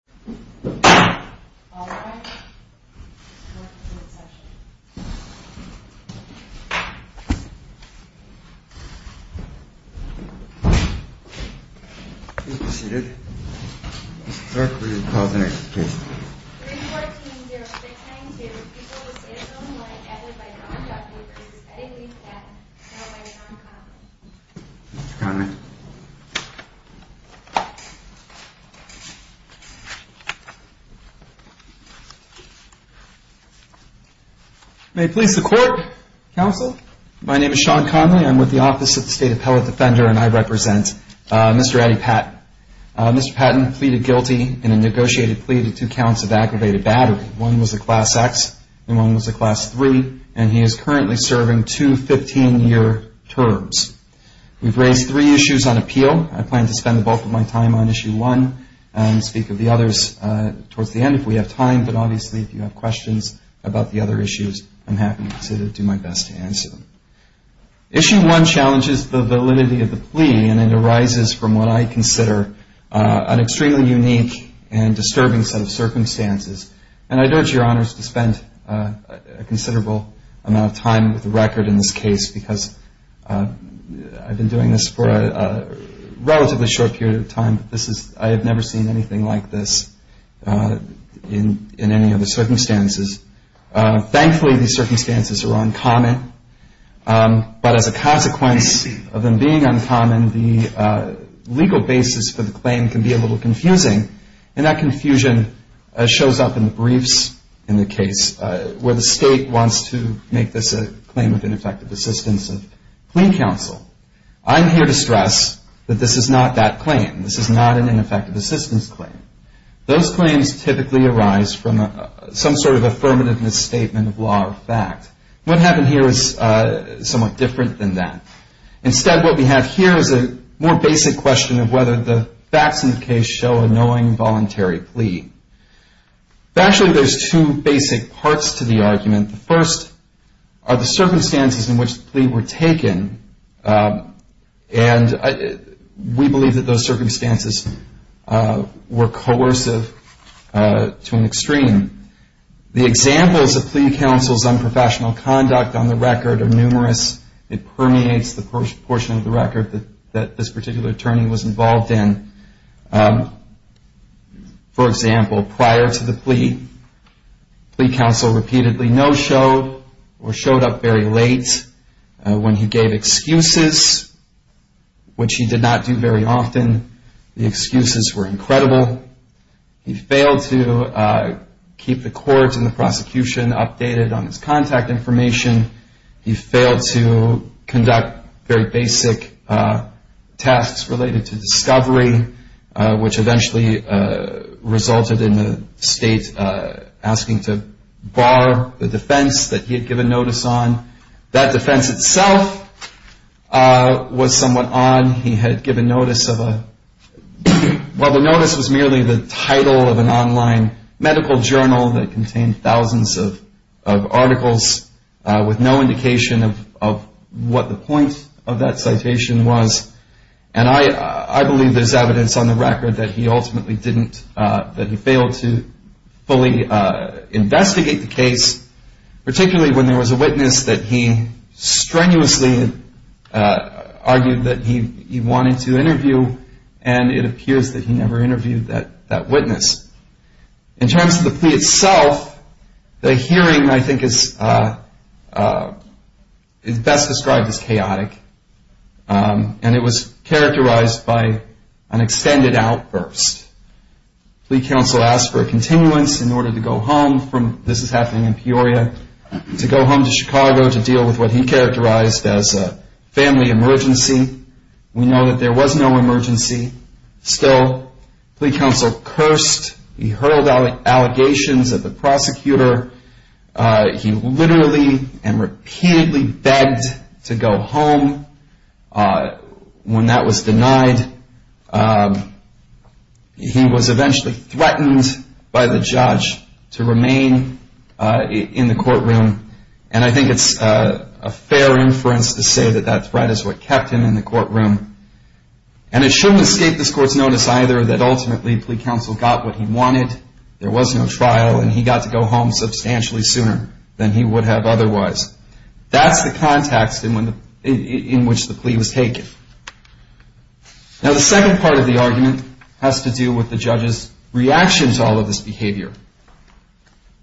314-069-2, people of the State of Illinois, added by non-Dodd-Papers, Eddington v. Patton, held by the non-convicts. May it please the Court, Counsel? My name is Sean Conley. I'm with the Office of the State Appellate Defender, and I represent Mr. Eddie Patton. Mr. Patton pleaded guilty in a negotiated plea to two counts of aggravated battery. One was a Class X and one was a Class III, and he is currently serving two 15-year terms. We've raised three issues on appeal. I plan to spend the bulk of my time on Issue 1 and speak of the others towards the end if we have time. But obviously, if you have questions about the other issues, I'm happy to do my best to answer them. Issue 1 challenges the validity of the plea, and it arises from what I consider an extremely unique and disturbing set of circumstances. And I'd urge Your Honors to spend a considerable amount of time with the record in this case, because I've been doing this for a relatively short period of time. I have never seen anything like this in any of the circumstances. Thankfully, these circumstances are uncommon, but as a consequence of them being uncommon, the legal basis for the claim can be a little confusing. And that confusion shows up in the briefs in the case where the State wants to make this a claim of ineffective assistance of Clean Counsel. I'm here to stress that this is not that claim. This is not an ineffective assistance claim. Those claims typically arise from some sort of affirmative misstatement of law or fact. What happened here is somewhat different than that. Instead, what we have here is a more basic question of whether the facts in the case show a knowing, voluntary plea. Actually, there's two basic parts to the argument. The first are the circumstances in which the plea were taken, and we believe that those circumstances were coercive to an extreme. The examples of plea counsel's unprofessional conduct on the record are numerous. It permeates the portion of the record that this particular attorney was involved in. For example, prior to the plea, plea counsel repeatedly no-showed or showed up very late when he gave excuses, which he did not do very often. The excuses were incredible. He failed to keep the courts and the prosecution updated on his contact information. He failed to conduct very basic tasks related to discovery, which eventually resulted in the State asking to bar the defense that he had given notice on. That defense itself was somewhat odd. While the notice was merely the title of an online medical journal that contained thousands of articles with no indication of what the point of that citation was, and I believe there's evidence on the record that he ultimately failed to fully investigate the case, particularly when there was a witness that he strenuously argued that he wanted to interview, and it appears that he never interviewed that witness. In terms of the plea itself, the hearing I think is best described as chaotic, and it was characterized by an extended outburst. Plea counsel asked for a continuance in order to go home from, this is happening in Peoria, to go home to Chicago to deal with what he characterized as a family emergency. We know that there was no emergency. Still, plea counsel cursed, he hurled allegations at the prosecutor. He literally and repeatedly begged to go home. When that was denied, he was eventually threatened by the judge to remain in the courtroom, and I think it's a fair inference to say that that threat is what kept him in the courtroom. And it shouldn't escape this court's notice either that ultimately plea counsel got what he wanted. At that point, there was no trial, and he got to go home substantially sooner than he would have otherwise. That's the context in which the plea was taken. Now, the second part of the argument has to do with the judge's reaction to all of this behavior.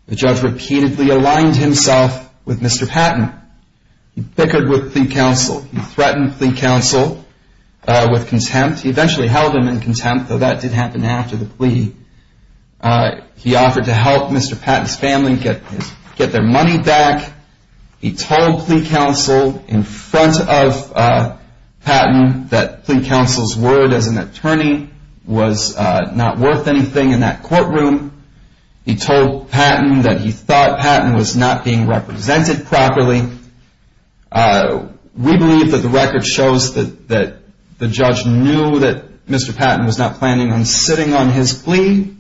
The judge repeatedly aligned himself with Mr. Patton. He bickered with plea counsel. He threatened plea counsel with contempt. He eventually held him in contempt, though that did happen after the plea. He offered to help Mr. Patton's family get their money back. He told plea counsel in front of Patton that plea counsel's word as an attorney was not worth anything in that courtroom. He told Patton that he thought Patton was not being represented properly. We believe that the record shows that the judge knew that Mr. Patton was not planning on sitting on his plea,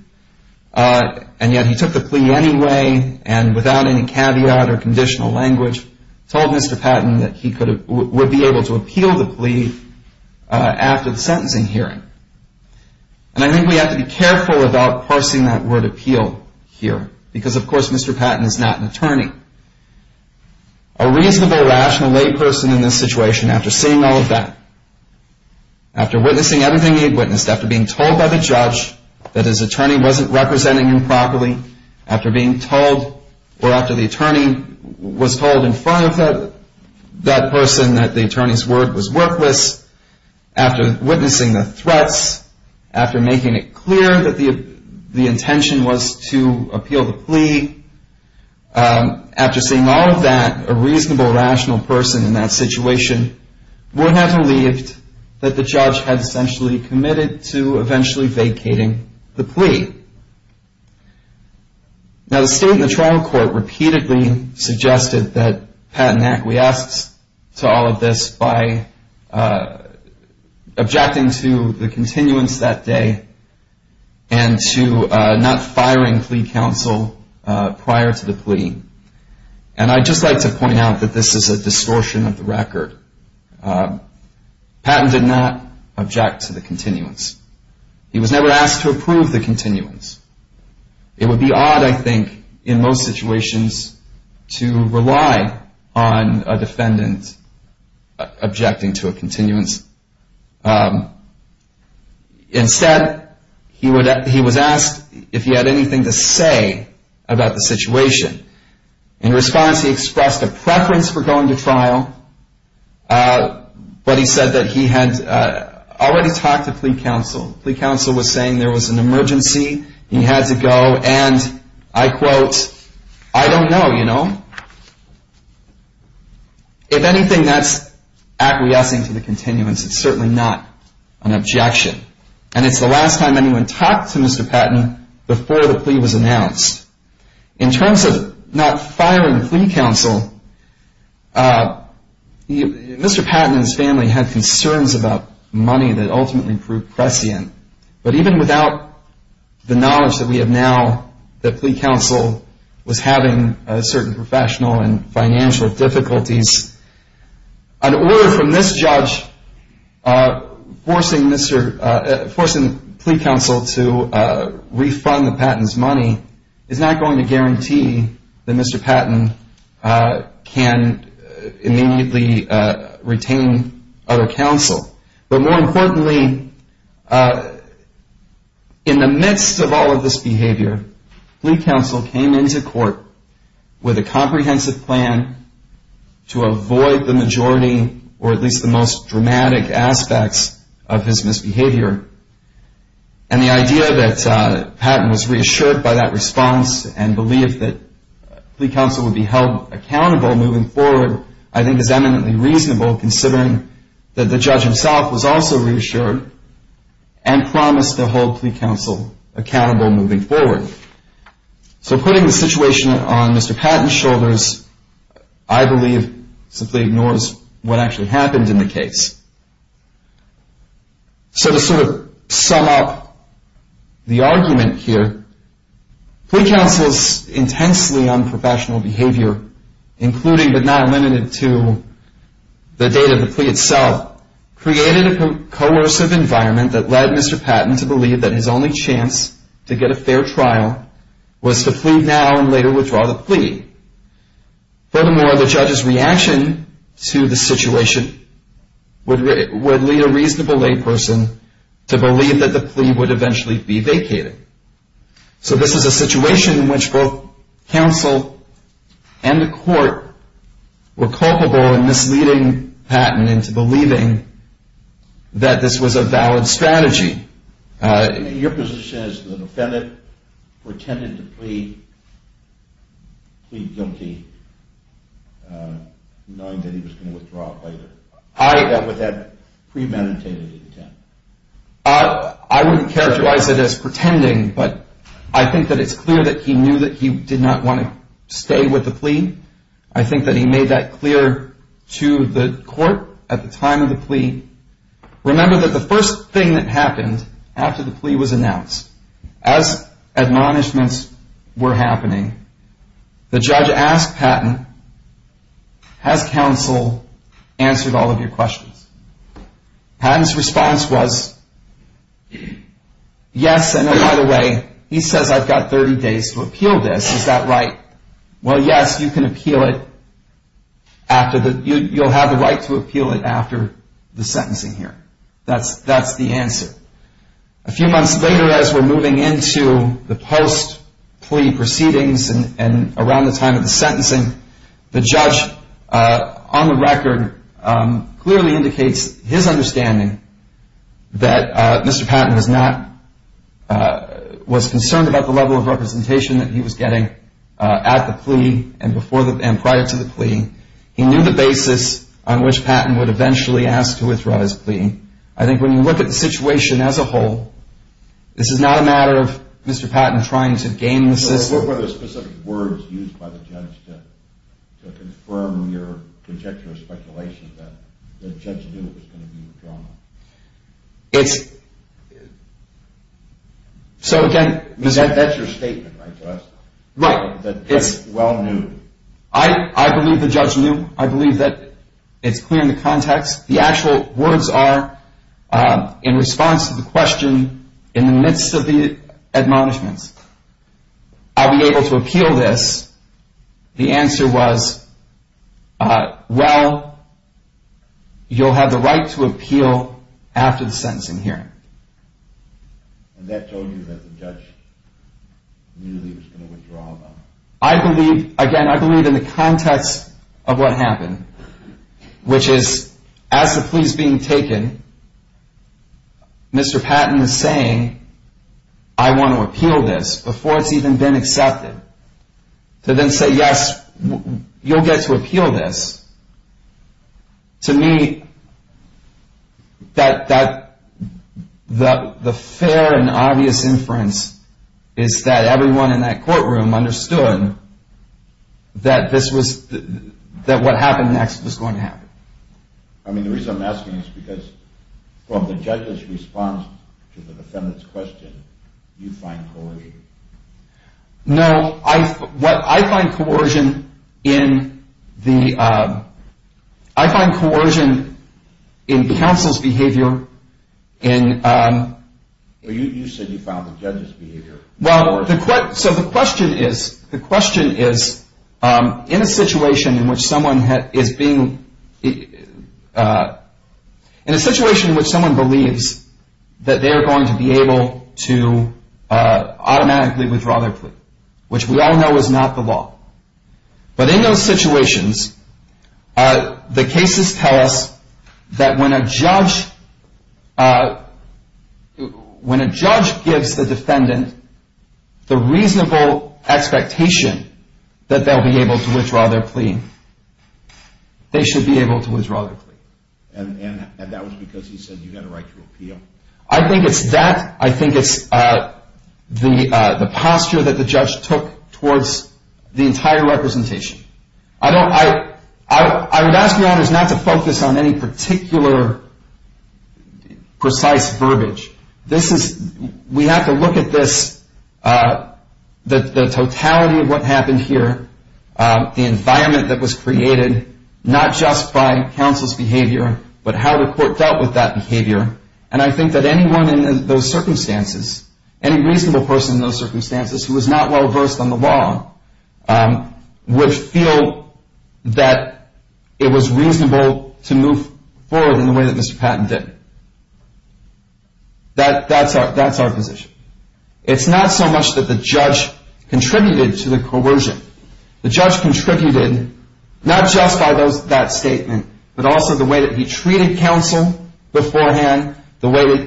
and yet he took the plea anyway and without any caveat or conditional language, told Mr. Patton that he would be able to appeal the plea after the sentencing hearing. And I think we have to be careful about parsing that word appeal here because, of course, Mr. Patton is not an attorney. A reasonable, rational lay person in this situation, after seeing all of that, after witnessing everything he witnessed, after being told by the judge that his attorney wasn't representing him properly, after being told or after the attorney was told in front of that person that the attorney's word was worthless, after witnessing the threats, after making it clear that the intention was to appeal the plea, after seeing all of that, a reasonable, rational person in that situation would have believed that the judge had essentially committed to eventually vacating the plea. Now, the state and the trial court repeatedly suggested that Patton acquiesced to all of this by objecting to the continuance that day and to not firing plea counsel prior to the plea. And I'd just like to point out that this is a distortion of the record. Patton did not object to the continuance. He was never asked to approve the continuance. It would be odd, I think, in most situations to rely on a defendant objecting to a continuance. Instead, he was asked if he had anything to say about the situation. In response, he expressed a preference for going to trial, but he said that he had already talked to plea counsel. Plea counsel was saying there was an emergency, he had to go, and I quote, I don't know, you know. If anything, that's acquiescing to the continuance. It's certainly not an objection. And it's the last time anyone talked to Mr. Patton before the plea was announced. In terms of not firing plea counsel, Mr. Patton and his family had concerns about money that ultimately proved prescient, but even without the knowledge that we have now that plea counsel was having certain professional and financial difficulties, an order from this judge forcing plea counsel to refund Patton's money is not going to guarantee that Mr. Patton can immediately retain other counsel. But more importantly, in the midst of all of this behavior, plea counsel came into court with a comprehensive plan to avoid the majority or at least the most dramatic aspects of his misbehavior. And the idea that Patton was reassured by that response and believed that plea counsel would be held accountable moving forward, I think is eminently reasonable considering that the judge himself was also reassured and promised to hold plea counsel accountable moving forward. So putting the situation on Mr. Patton's shoulders, I believe simply ignores what actually happened in the case. So to sort of sum up the argument here, plea counsel's intensely unprofessional behavior, including but not limited to the date of the plea itself, created a coercive environment that led Mr. Patton to believe that his only chance to get a fair trial was to plead now and later withdraw the plea. Furthermore, the judge's reaction to the situation would lead a reasonable layperson to believe that the plea would eventually be vacated. So this is a situation in which both counsel and the court were culpable in misleading Patton into believing that this was a valid strategy. Your position is the defendant pretended to plead guilty knowing that he was going to withdraw later. Would that premeditated intent? I wouldn't characterize it as pretending, but I think that it's clear that he knew that he did not want to stay with the plea. I think that he made that clear to the court at the time of the plea. Remember that the first thing that happened after the plea was announced, as admonishments were happening, the judge asked Patton, has counsel answered all of your questions? Patton's response was, yes, and by the way, he says I've got 30 days to appeal this. Is that right? Well, yes, you can appeal it. You'll have the right to appeal it after the sentencing here. That's the answer. A few months later, as we're moving into the post-plea proceedings and around the time of the sentencing, the judge on the record clearly indicates his understanding that Mr. Patton was concerned about the level of representation that he was getting at the plea and prior to the plea. He knew the basis on which Patton would eventually ask to withdraw his plea. I think when you look at the situation as a whole, this is not a matter of Mr. Patton trying to game the system. What were the specific words used by the judge to confirm your conjecture or speculation that the judge knew it was going to be a drama? So, again, Mr. That's your statement, right? Right. That the judge well knew. I believe the judge knew. I believe that it's clear in the context. The actual words are, in response to the question, in the midst of the admonishments. I'll be able to appeal this. The answer was, well, you'll have the right to appeal after the sentencing hearing. And that told you that the judge knew he was going to withdraw? I believe, again, I believe in the context of what happened, which is as the plea is being taken, Mr. Patton is saying, I want to appeal this before it's even been accepted. To then say, yes, you'll get to appeal this. To me, the fair and obvious inference is that everyone in that courtroom understood that what happened next was going to happen. I mean, the reason I'm asking is because from the judge's response to the defendant's question, you find coercion. No. What I find coercion in the, I find coercion in counsel's behavior. You said you found the judge's behavior coercive. Well, so the question is, the question is, in a situation in which someone is being, in a situation in which someone believes that they are going to be able to automatically withdraw their plea, which we all know is not the law. But in those situations, the cases tell us that when a judge gives the defendant the reasonable expectation that they'll be able to withdraw their plea, they should be able to withdraw their plea. And that was because he said you had a right to appeal? I think it's that. I think it's the posture that the judge took towards the entire representation. I don't, I, I would ask the audience not to focus on any particular precise verbiage. This is, we have to look at this, the totality of what happened here, the environment that was created, not just by counsel's behavior, but how the court dealt with that behavior. And I think that anyone in those circumstances, any reasonable person in those circumstances who was not well versed on the law would feel that it was reasonable to move forward in the way that Mr. Patton did. That, that's our, that's our position. It's not so much that the judge contributed to the coercion. The judge contributed not just by those, that statement, but also the way that he treated counsel beforehand, the way,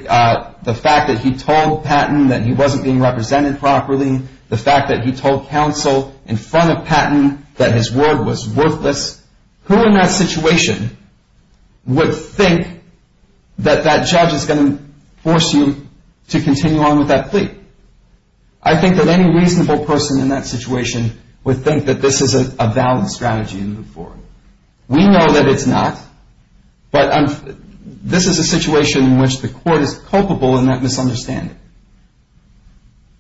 the fact that he told Patton that he wasn't being represented properly, the fact that he told counsel in front of Patton that his word was worthless. Who in that situation would think that that judge is going to force you to continue on with that plea? I think that any reasonable person in that situation would think that this is a valid strategy to move forward. We know that it's not, but this is a situation in which the court is culpable in that misunderstanding.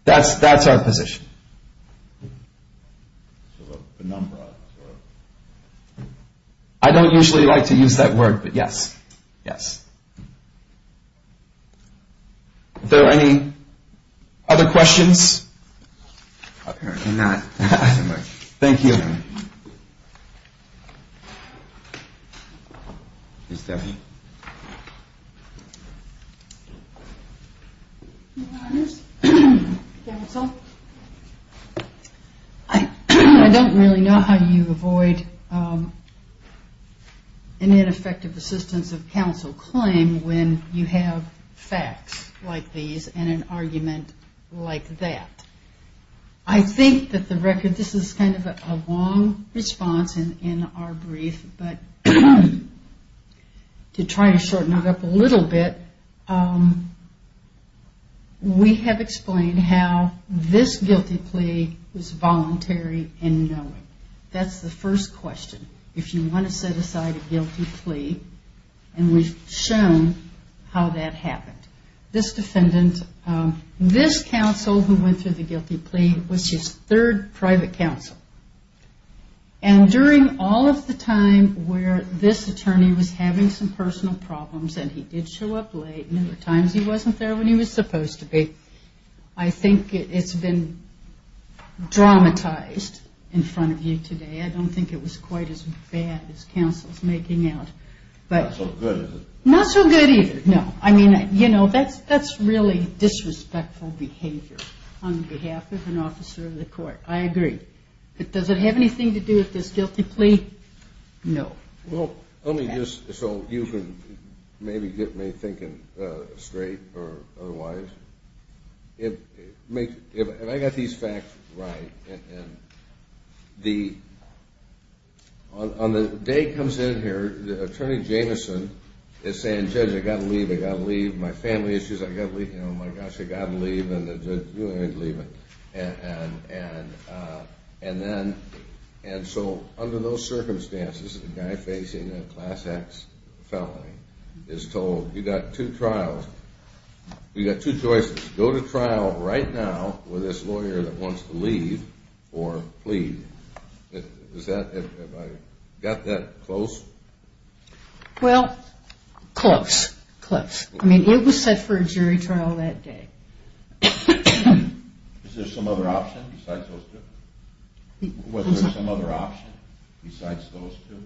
That's, that's our position. I don't usually like to use that word, but yes, yes. Are there any other questions? Apparently not. Thank you. Ms. Duffy. Your Honors, counsel, I don't really know how you avoid an ineffective assistance of counsel claim when you have facts like these and an argument like that. I think that the record, this is kind of a long response in our brief, but to try to shorten it up a little bit, we have explained how this guilty plea was voluntary in knowing. That's the first question. If you want to set aside a guilty plea, and we've shown how that happened. This defendant, this counsel who went through the guilty plea was his third private counsel. And during all of the time where this attorney was having some personal problems, and he did show up late and there were times he wasn't there when he was supposed to be, I think it's been dramatized in front of you today. I don't think it was quite as bad as counsel's making out. Not so good, is it? Not so good either. No. I mean, you know, that's really disrespectful behavior on behalf of an officer of the court. I agree. But does it have anything to do with this guilty plea? No. Well, let me just, so you can maybe get me thinking straight or otherwise. If I got these facts right, and on the day he comes in here, the attorney Jameson is saying, Judge, I've got to leave, I've got to leave. My family issues, I've got to leave. You know, my gosh, I've got to leave. And the judge, go ahead and leave. And then, and so under those circumstances, a guy facing a Class X felony is told, you've got two trials. You've got two choices. Go to trial right now with this lawyer that wants to leave or plead. Is that, have I got that close? Well, close. Close. I mean, it was set for a jury trial that day. Is there some other option besides those two? Was there some other option besides those two?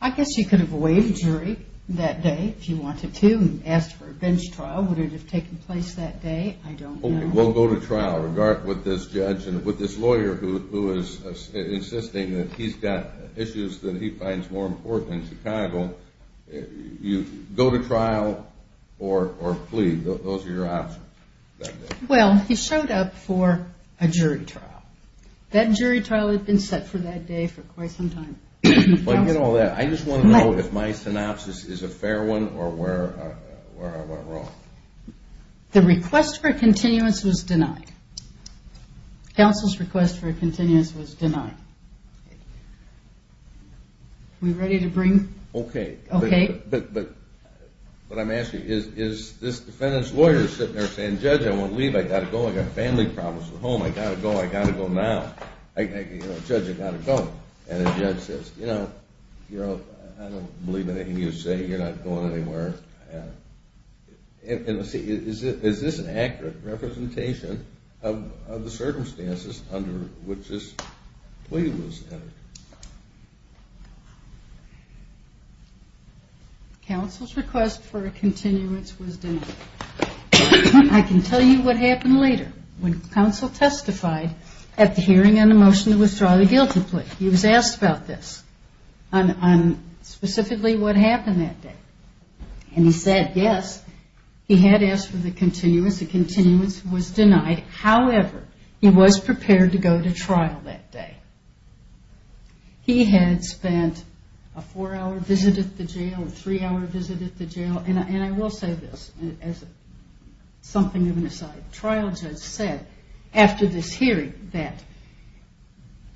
I guess you could have waived jury that day if you wanted to and asked for a bench trial. Would it have taken place that day? I don't know. We'll go to trial. With this judge and with this lawyer who is insisting that he's got issues that he finds more important in Chicago, you go to trial or plead. Those are your options. Well, he showed up for a jury trial. That jury trial had been set for that day for quite some time. But, you know, I just want to know if my synopsis is a fair one or where I went wrong. The request for a continuance was denied. Counsel's request for a continuance was denied. Are we ready to bring? Okay. Okay. But I'm asking, is this defendant's lawyer sitting there saying, Judge, I won't leave. I've got to go. I've got family problems at home. I've got to go. I've got to go now. Judge, I've got to go. And the judge says, you know, I don't believe anything you say. You're not going anywhere. Is this an accurate representation of the circumstances under which this plea was entered? Counsel's request for a continuance was denied. I can tell you what happened later. When counsel testified at the hearing on the motion to withdraw the guilty plea, he was asked about this, on specifically what happened that day. And he said, yes, he had asked for the continuance. The continuance was denied. However, he was prepared to go to trial that day. He had spent a four-hour visit at the jail, a three-hour visit at the jail, and I will say this as something of an aside. The trial judge said after this hearing that,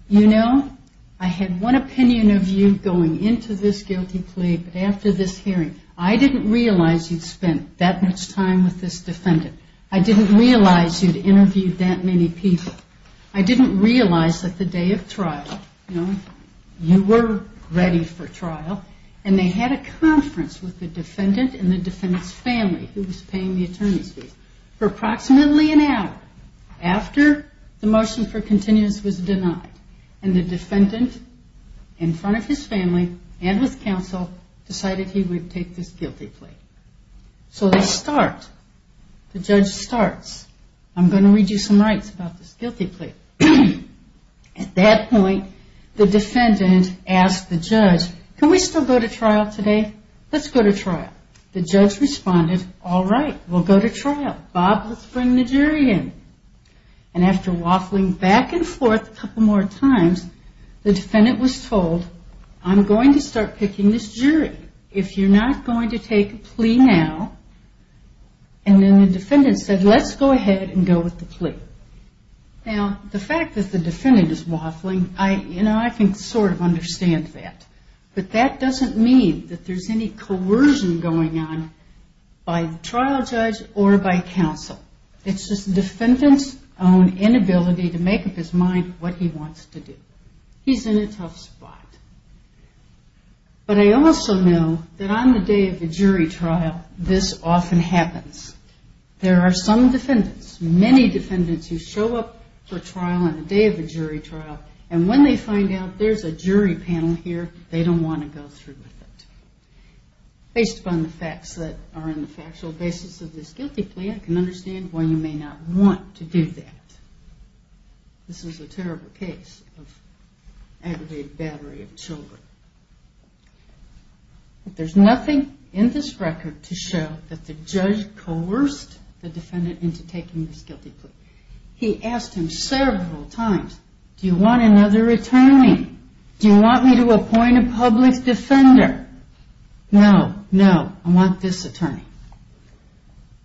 you know, I had one opinion of you going into this guilty plea, but after this hearing, I didn't realize you'd spent that much time with this defendant. I didn't realize you'd interviewed that many people. I didn't realize that the day of trial, you know, you were ready for trial, and they had a conference with the defendant and the defendant's family, who was paying the attorney's fees. For approximately an hour after the motion for continuance was denied, and the defendant, in front of his family and with counsel, decided he would take this guilty plea. So they start. The judge starts. I'm going to read you some rights about this guilty plea. At that point, the defendant asked the judge, can we still go to trial today? Let's go to trial. The judge responded, all right, we'll go to trial. Bob, let's bring the jury in. And after waffling back and forth a couple more times, the defendant was told, I'm going to start picking this jury. If you're not going to take a plea now, and then the defendant said, let's go ahead and go with the plea. Now, the fact that the defendant is waffling, you know, I can sort of understand that. But that doesn't mean that there's any coercion going on by the trial judge or by counsel. It's just the defendant's own inability to make up his mind what he wants to do. He's in a tough spot. But I also know that on the day of a jury trial, this often happens. There are some defendants, many defendants, who show up for trial on the day of a jury trial, and when they find out there's a jury panel here, they don't want to go through with it. Based upon the facts that are in the factual basis of this guilty plea, I can understand why you may not want to do that. This is a terrible case of aggravated battery of children. There's nothing in this record to show that the judge coerced the defendant into taking this guilty plea. He asked him several times, do you want another attorney? Do you want me to appoint a public defender? No, no, I want this attorney.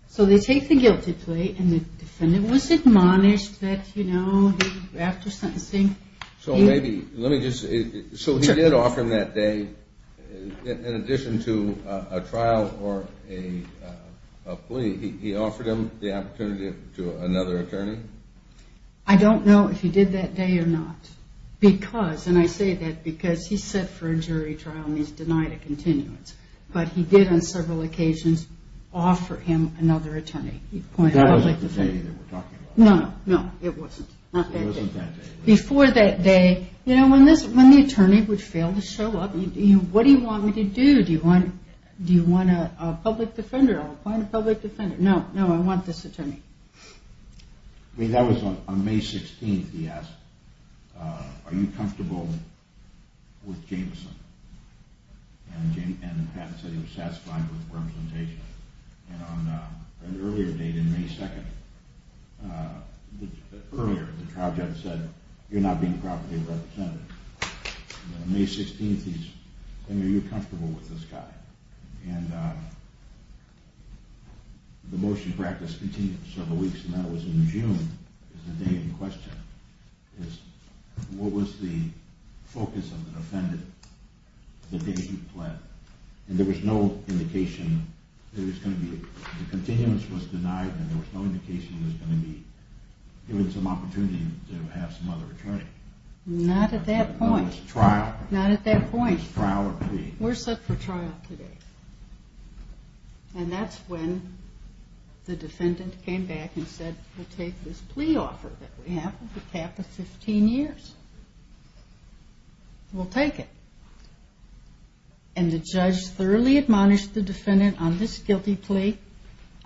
So they take the guilty plea, and the defendant was admonished that, you know, after sentencing, he... So maybe, let me just say, so he did offer him that day, in addition to a trial or a plea, he offered him the opportunity to another attorney? I don't know if he did that day or not. Because, and I say that because he's set for a jury trial and he's denied a continuance, but he did on several occasions offer him another attorney. That wasn't the day that we're talking about. No, no, it wasn't. It wasn't that day. Before that day, you know, when the attorney would fail to show up, what do you want me to do? Do you want a public defender? I'll appoint a public defender. No, no, I want this attorney. I mean, that was on May 16th he asked, are you comfortable with Jameson? And Pat said he was satisfied with the representation. And on an earlier date, in May 2nd, earlier the trial judge said, you're not being properly represented. On May 16th he said, are you comfortable with this guy? And the motion practice continued for several weeks, and that was in June is the day in question. What was the focus of the defendant the day he pled? And there was no indication there was going to be, the continuance was denied and there was no indication he was going to be given some opportunity to have some other attorney. Not at that point. Trial. Not at that point. Trial or plea. We're set for trial today. And that's when the defendant came back and said, we'll take this plea offer that we have with a cap of 15 years. We'll take it. And the judge thoroughly admonished the defendant on this guilty plea.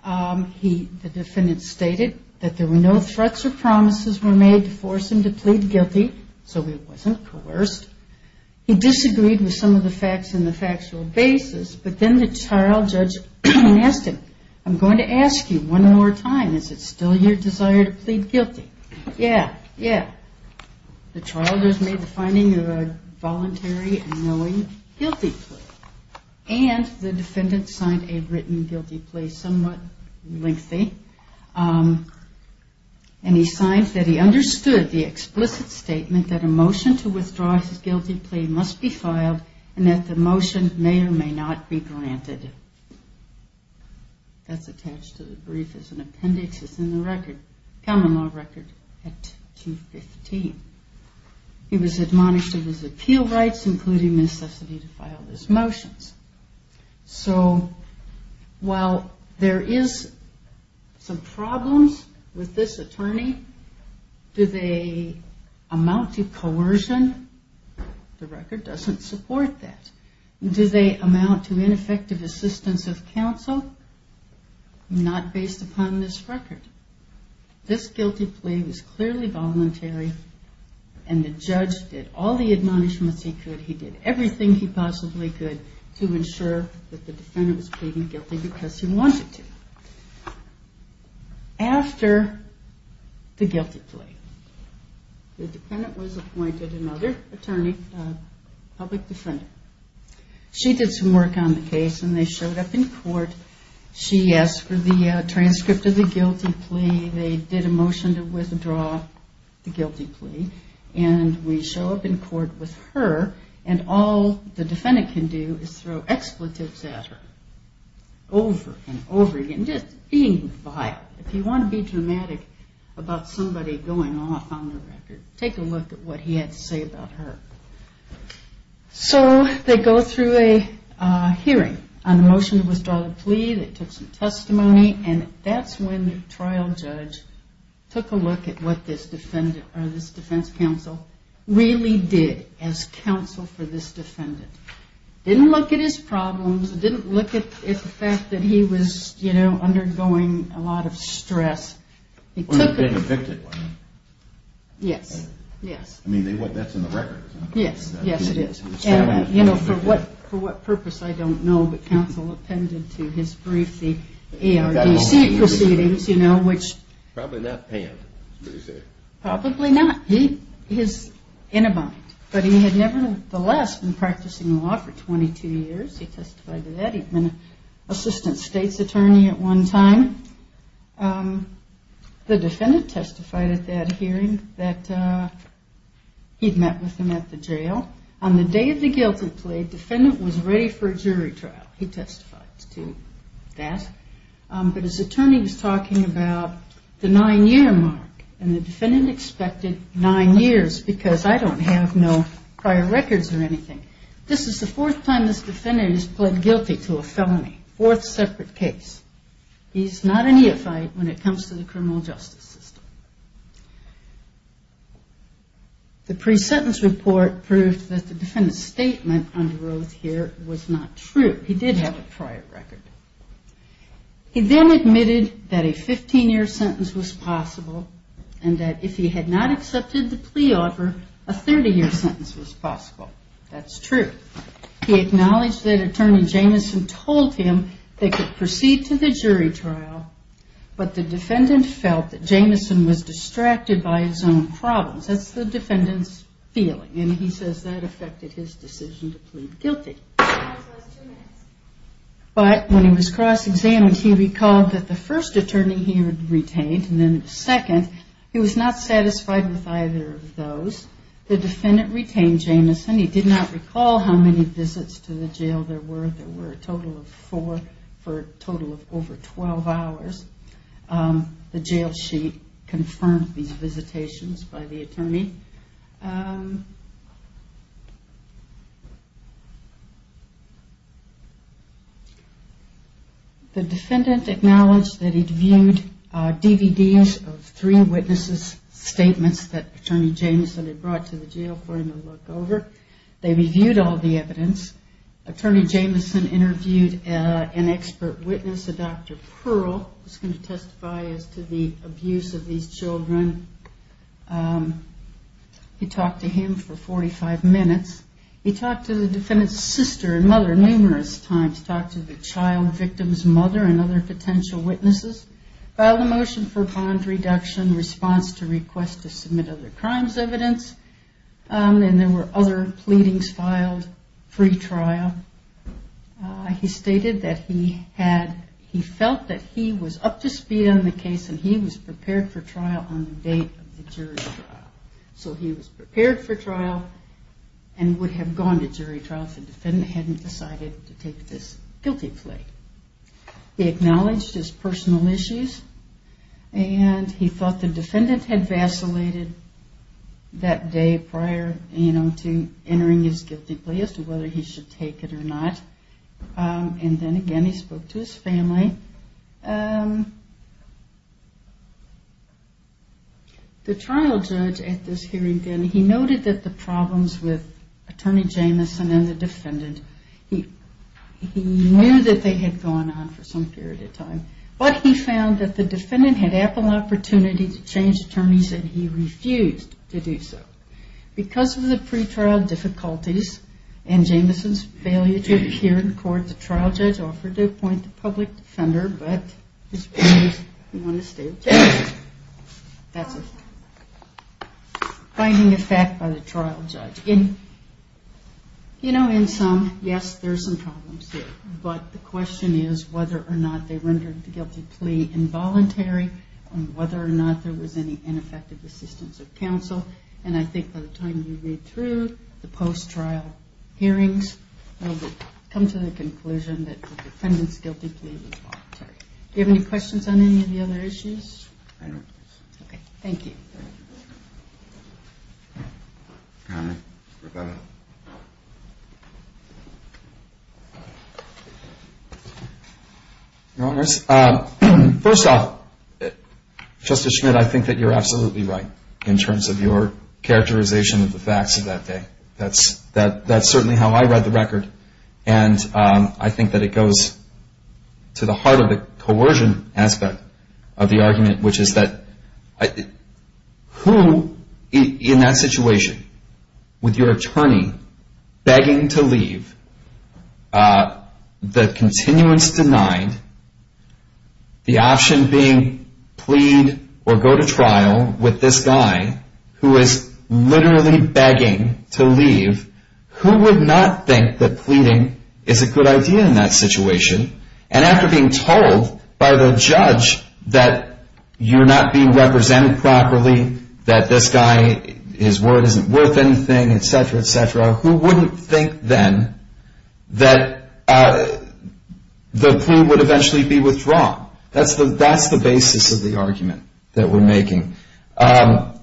The defendant stated that there were no threats or promises were made to force him to plead guilty, so he wasn't coerced. He disagreed with some of the facts in the factual basis, but then the trial judge asked him, I'm going to ask you one more time, is it still your desire to plead guilty? Yeah. Yeah. The trial judge made the finding of a voluntary and knowing guilty plea. And the defendant signed a written guilty plea, somewhat lengthy, and he signed that he understood the explicit statement that a motion to withdraw his guilty plea must be filed and that the motion may or may not be granted. That's attached to the brief as an appendix. It's in the record, common law record at 215. He was admonished of his appeal rights, including necessity to file his motions. So while there is some problems with this attorney, do they amount to coercion? The record doesn't support that. Do they amount to ineffective assistance of counsel? Not based upon this record. This guilty plea was clearly voluntary, and the judge did all the admonishments he could. He did everything he possibly could to ensure that the defendant was pleading guilty because he wanted to. After the guilty plea, the defendant was appointed another attorney, public defendant. She did some work on the case, and they showed up in court. She asked for the transcript of the guilty plea. They did a motion to withdraw the guilty plea, and we show up in court with her, and all the defendant can do is throw expletives at her over and over again, just being vile. If you want to be dramatic about somebody going off on the record, take a look at what he had to say about her. So they go through a hearing on the motion to withdraw the plea. They took some testimony, and that's when the trial judge took a look at what this defense counsel really did as counsel for this defendant. He didn't look at his problems. He didn't look at the fact that he was undergoing a lot of stress. He took a brief. They evicted one. Yes, yes. I mean, that's in the record. Yes, yes, it is. For what purpose, I don't know, but counsel appended to his brief the ARDC proceedings. Probably not panned is what he said. Probably not. He is in a bind. But he had nevertheless been practicing law for 22 years. He testified to that. He'd been an assistant state's attorney at one time. The defendant testified at that hearing that he'd met with him at the jail. On the day of the guilty plea, defendant was ready for a jury trial. He testified to that. But his attorney was talking about the nine-year mark, and the defendant expected nine years because, I don't have no prior records or anything. This is the fourth time this defendant has pled guilty to a felony, fourth separate case. He's not a neophyte when it comes to the criminal justice system. The pre-sentence report proved that the defendant's statement under oath here was not true. He did have a prior record. He then admitted that a 15-year sentence was possible and that if he had not accepted the plea offer, a 30-year sentence was possible. That's true. He acknowledged that attorney Jamison told him they could proceed to the jury trial, but the defendant felt that Jamison was distracted by his own problems. That's the defendant's feeling, and he says that affected his decision to plead guilty. But when he was cross-examined, he recalled that the first attorney he had retained and then the second, he was not satisfied with either of those. The defendant retained Jamison. He did not recall how many visits to the jail there were. There were a total of four for a total of over 12 hours. The jail sheet confirmed these visitations by the attorney. The defendant acknowledged that he'd viewed DVDs of three witnesses' statements that attorney Jamison had brought to the jail for him to look over. They reviewed all the evidence. Attorney Jamison interviewed an expert witness, a Dr. Pearl, who's going to testify as to the abuse of these children. He talked to him for 45 minutes. He talked to the defendant's sister and mother numerous times, talked to the child victim's mother and other potential witnesses, filed a motion for bond reduction, response to request to submit other crimes evidence, and there were other pleadings filed, free trial. He stated that he felt that he was up to speed on the case and he was prepared for trial on the date of the jury trial. So he was prepared for trial and would have gone to jury trial if the defendant hadn't decided to take this guilty plea. He acknowledged his personal issues and he thought the defendant had vacillated that day prior, you know, to entering his guilty plea as to whether he should take it or not. And then again he spoke to his family. The trial judge at this hearing then, he noted that the problems with Attorney Jamison and the defendant, he knew that they had gone on for some period of time, but he found that the defendant had ample opportunity to change attorneys and he refused to do so. Because of the pre-trial difficulties and Jamison's failure to appear in court, the trial judge offered to appoint a public defender, but his plea was not accepted. That's a finding of fact by the trial judge. You know, in some, yes, there's some problems there, but the question is whether or not they rendered the guilty plea involuntary and whether or not there was any ineffective assistance of counsel. And I think by the time you read through the post-trial hearings, you'll come to the conclusion that the defendant's guilty plea was voluntary. Do you have any questions on any of the other issues? I don't. Okay. Thank you. Your Honors, first off, Justice Schmidt, I think that you're absolutely right in terms of your characterization of the facts of that day. That's certainly how I read the record, and I think that it goes to the heart of the coercion aspect of the argument, which is that who in that situation with your attorney begging to leave, the continuance denied, the option being plead or go to trial with this guy who is literally begging to leave, who would not think that pleading is a good idea in that situation? And after being told by the judge that you're not being represented properly, that this guy, his word isn't worth anything, et cetera, et cetera, who wouldn't think then that the plea would eventually be withdrawn? That's the basis of the argument that we're making.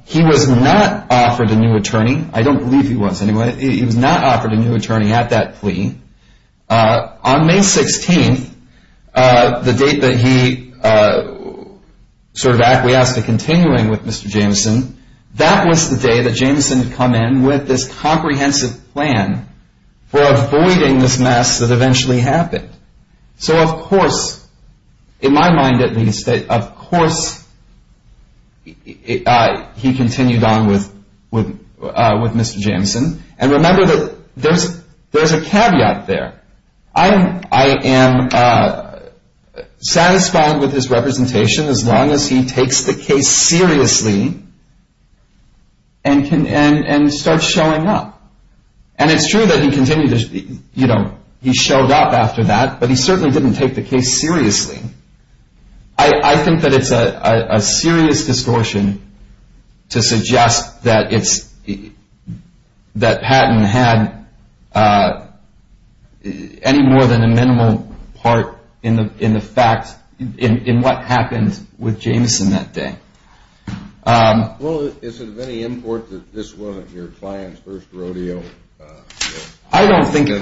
He was not offered a new attorney. I don't believe he was anyway. He was not offered a new attorney at that plea. On May 16th, the date that he sort of acquiesced to continuing with Mr. Jameson, that was the day that Jameson had come in with this comprehensive plan for avoiding this mess that eventually happened. So of course, in my mind at least, of course he continued on with Mr. Jameson. And remember that there's a caveat there. I am satisfied with his representation as long as he takes the case seriously and starts showing up. And it's true that he showed up after that, but he certainly didn't take the case seriously. I think that it's a serious distortion to suggest that Patton had any more than a minimal part in what happened with Jameson that day. Well, is it of any import that this wasn't your client's first rodeo? I don't think it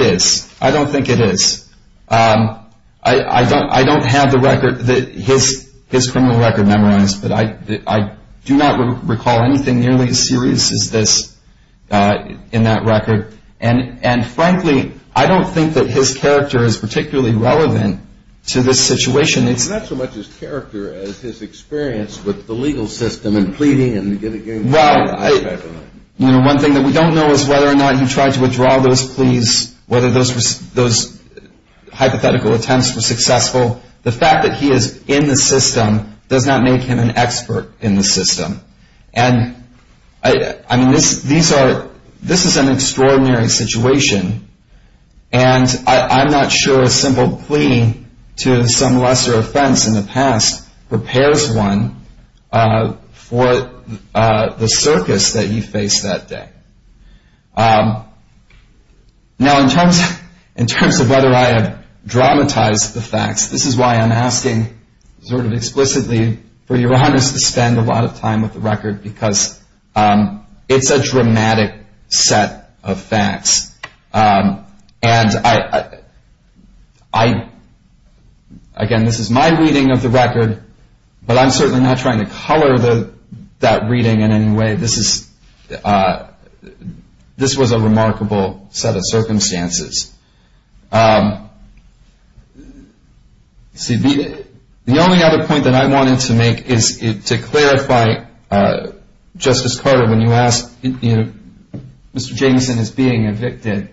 is. I don't think it is. I don't have the record, his criminal record memorized, but I do not recall anything nearly as serious as this in that record. And frankly, I don't think that his character is particularly relevant to this situation. It's not so much his character as his experience with the legal system and pleading and getting the high-five and all that. Well, one thing that we don't know is whether or not he tried to withdraw those pleas, whether those hypothetical attempts were successful. The fact that he is in the system does not make him an expert in the system. And, I mean, this is an extraordinary situation, and I'm not sure a simple plea to some lesser offense in the past prepares one for the circus that he faced that day. Now, in terms of whether I have dramatized the facts, this is why I'm asking sort of explicitly for your Honest to spend a lot of time with the record, because it's a dramatic set of facts. And, again, this is my reading of the record, but I'm certainly not trying to color that reading in any way. This was a remarkable set of circumstances. See, the only other point that I wanted to make is to clarify, Justice Carter, when you asked if Mr. Jameson is being evicted,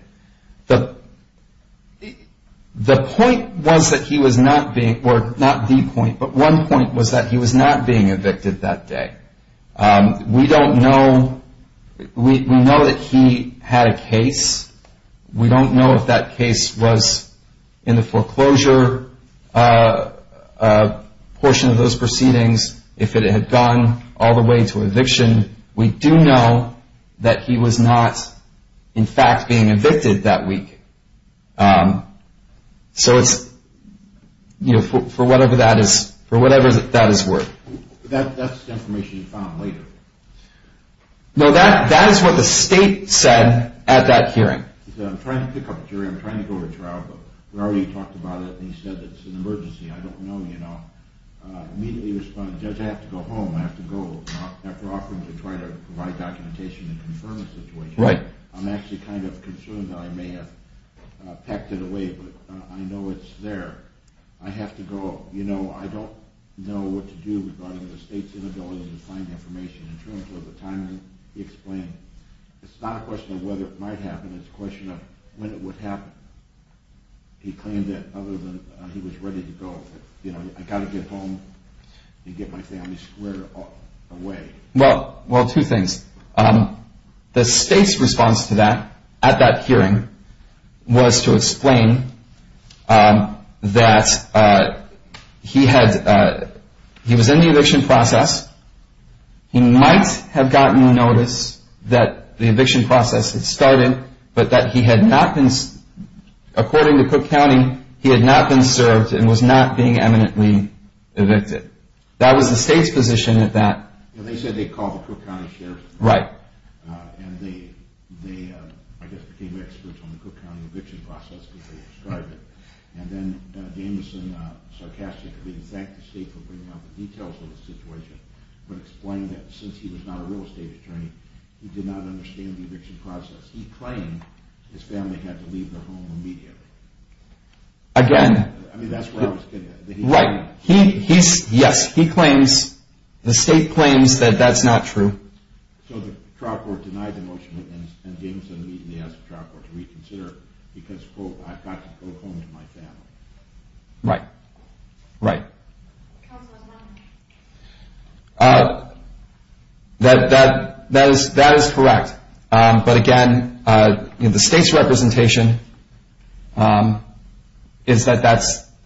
the point was that he was not being, or not the point, but one point was that he was not being evicted that day. We don't know. We know that he had a case. We don't know if that case was in the foreclosure portion of those proceedings, if it had gone all the way to eviction. We do know that he was not, in fact, being evicted that week. So it's, you know, for whatever that is worth. That's the information you found later. No, that is what the state said at that hearing. I'm trying to pick up a jury. I'm trying to go to trial, but we already talked about it, and he said it's an emergency. I don't know, you know. Immediately responded, Judge, I have to go home. I have to go after offering to try to provide documentation and confirm the situation. Right. I'm actually kind of concerned that I may have packed it away, but I know it's there. I have to go. You know, I don't know what to do regarding the state's inability to find information in terms of the timing he explained. It's not a question of whether it might happen. It's a question of when it would happen. He claimed that other than he was ready to go. You know, I've got to get home and get my family squared away. Well, two things. The state's response to that at that hearing was to explain that he was in the eviction process. He might have gotten notice that the eviction process had started, but that he had not been, according to Cook County, he had not been served and was not being eminently evicted. That was the state's position at that. They said they called the Cook County Sheriff's Department. Right. And they, I guess, became experts on the Cook County eviction process because they described it. And then Damison sarcastically thanked the state for bringing up the details of the situation but explained that since he was not a real estate attorney, he did not understand the eviction process. He claimed his family had to leave their home immediately. Again. I mean, that's where I was getting at. Right. He's, yes, he claims, the state claims that that's not true. So the trial court denied the motion and Damison immediately asked the trial court to reconsider because, quote, I've got to go home to my family. Right. Right. That is correct. But again, the state's representation is that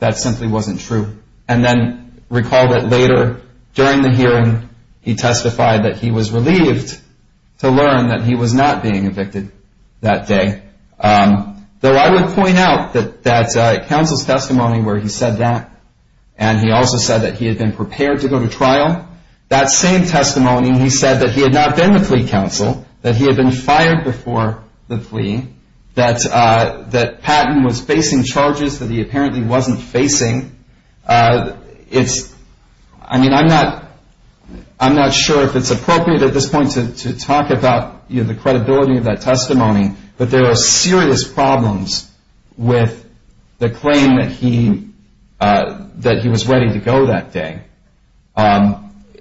that simply wasn't true. And then recall that later during the hearing, he testified that he was relieved to learn that he was not being evicted that day. Though I would point out that that counsel's testimony where he said that and he also said that he had been prepared to go to trial, that same testimony, he said that he had not been the flea council, that he had been fired before the flea, that Patton was facing charges that he apparently wasn't facing. It's I mean, I'm not I'm not sure if it's appropriate at this point to talk about the credibility of that testimony. But there are serious problems with the claim that he that he was ready to go that day. And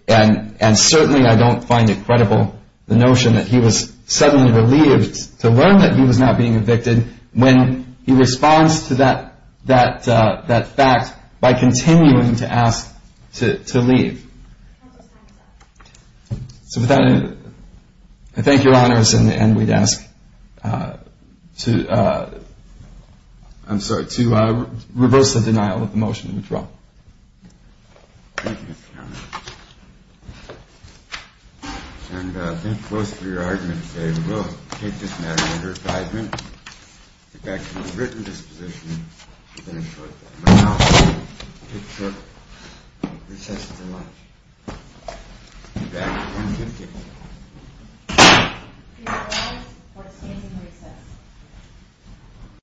and certainly I don't find it credible. The notion that he was suddenly relieved to learn that he was not being evicted when he responds to that, that that fact by continuing to ask to leave. So with that, I thank your honors. And we'd ask to I'm sorry to reverse the denial of the motion. Thank you. And thank you both for your argument today. We will take this matter under advisement. Get back to my written disposition. I'm going to short that. I'm going to now take short recess until lunch. Get back to my written disposition. Thank you.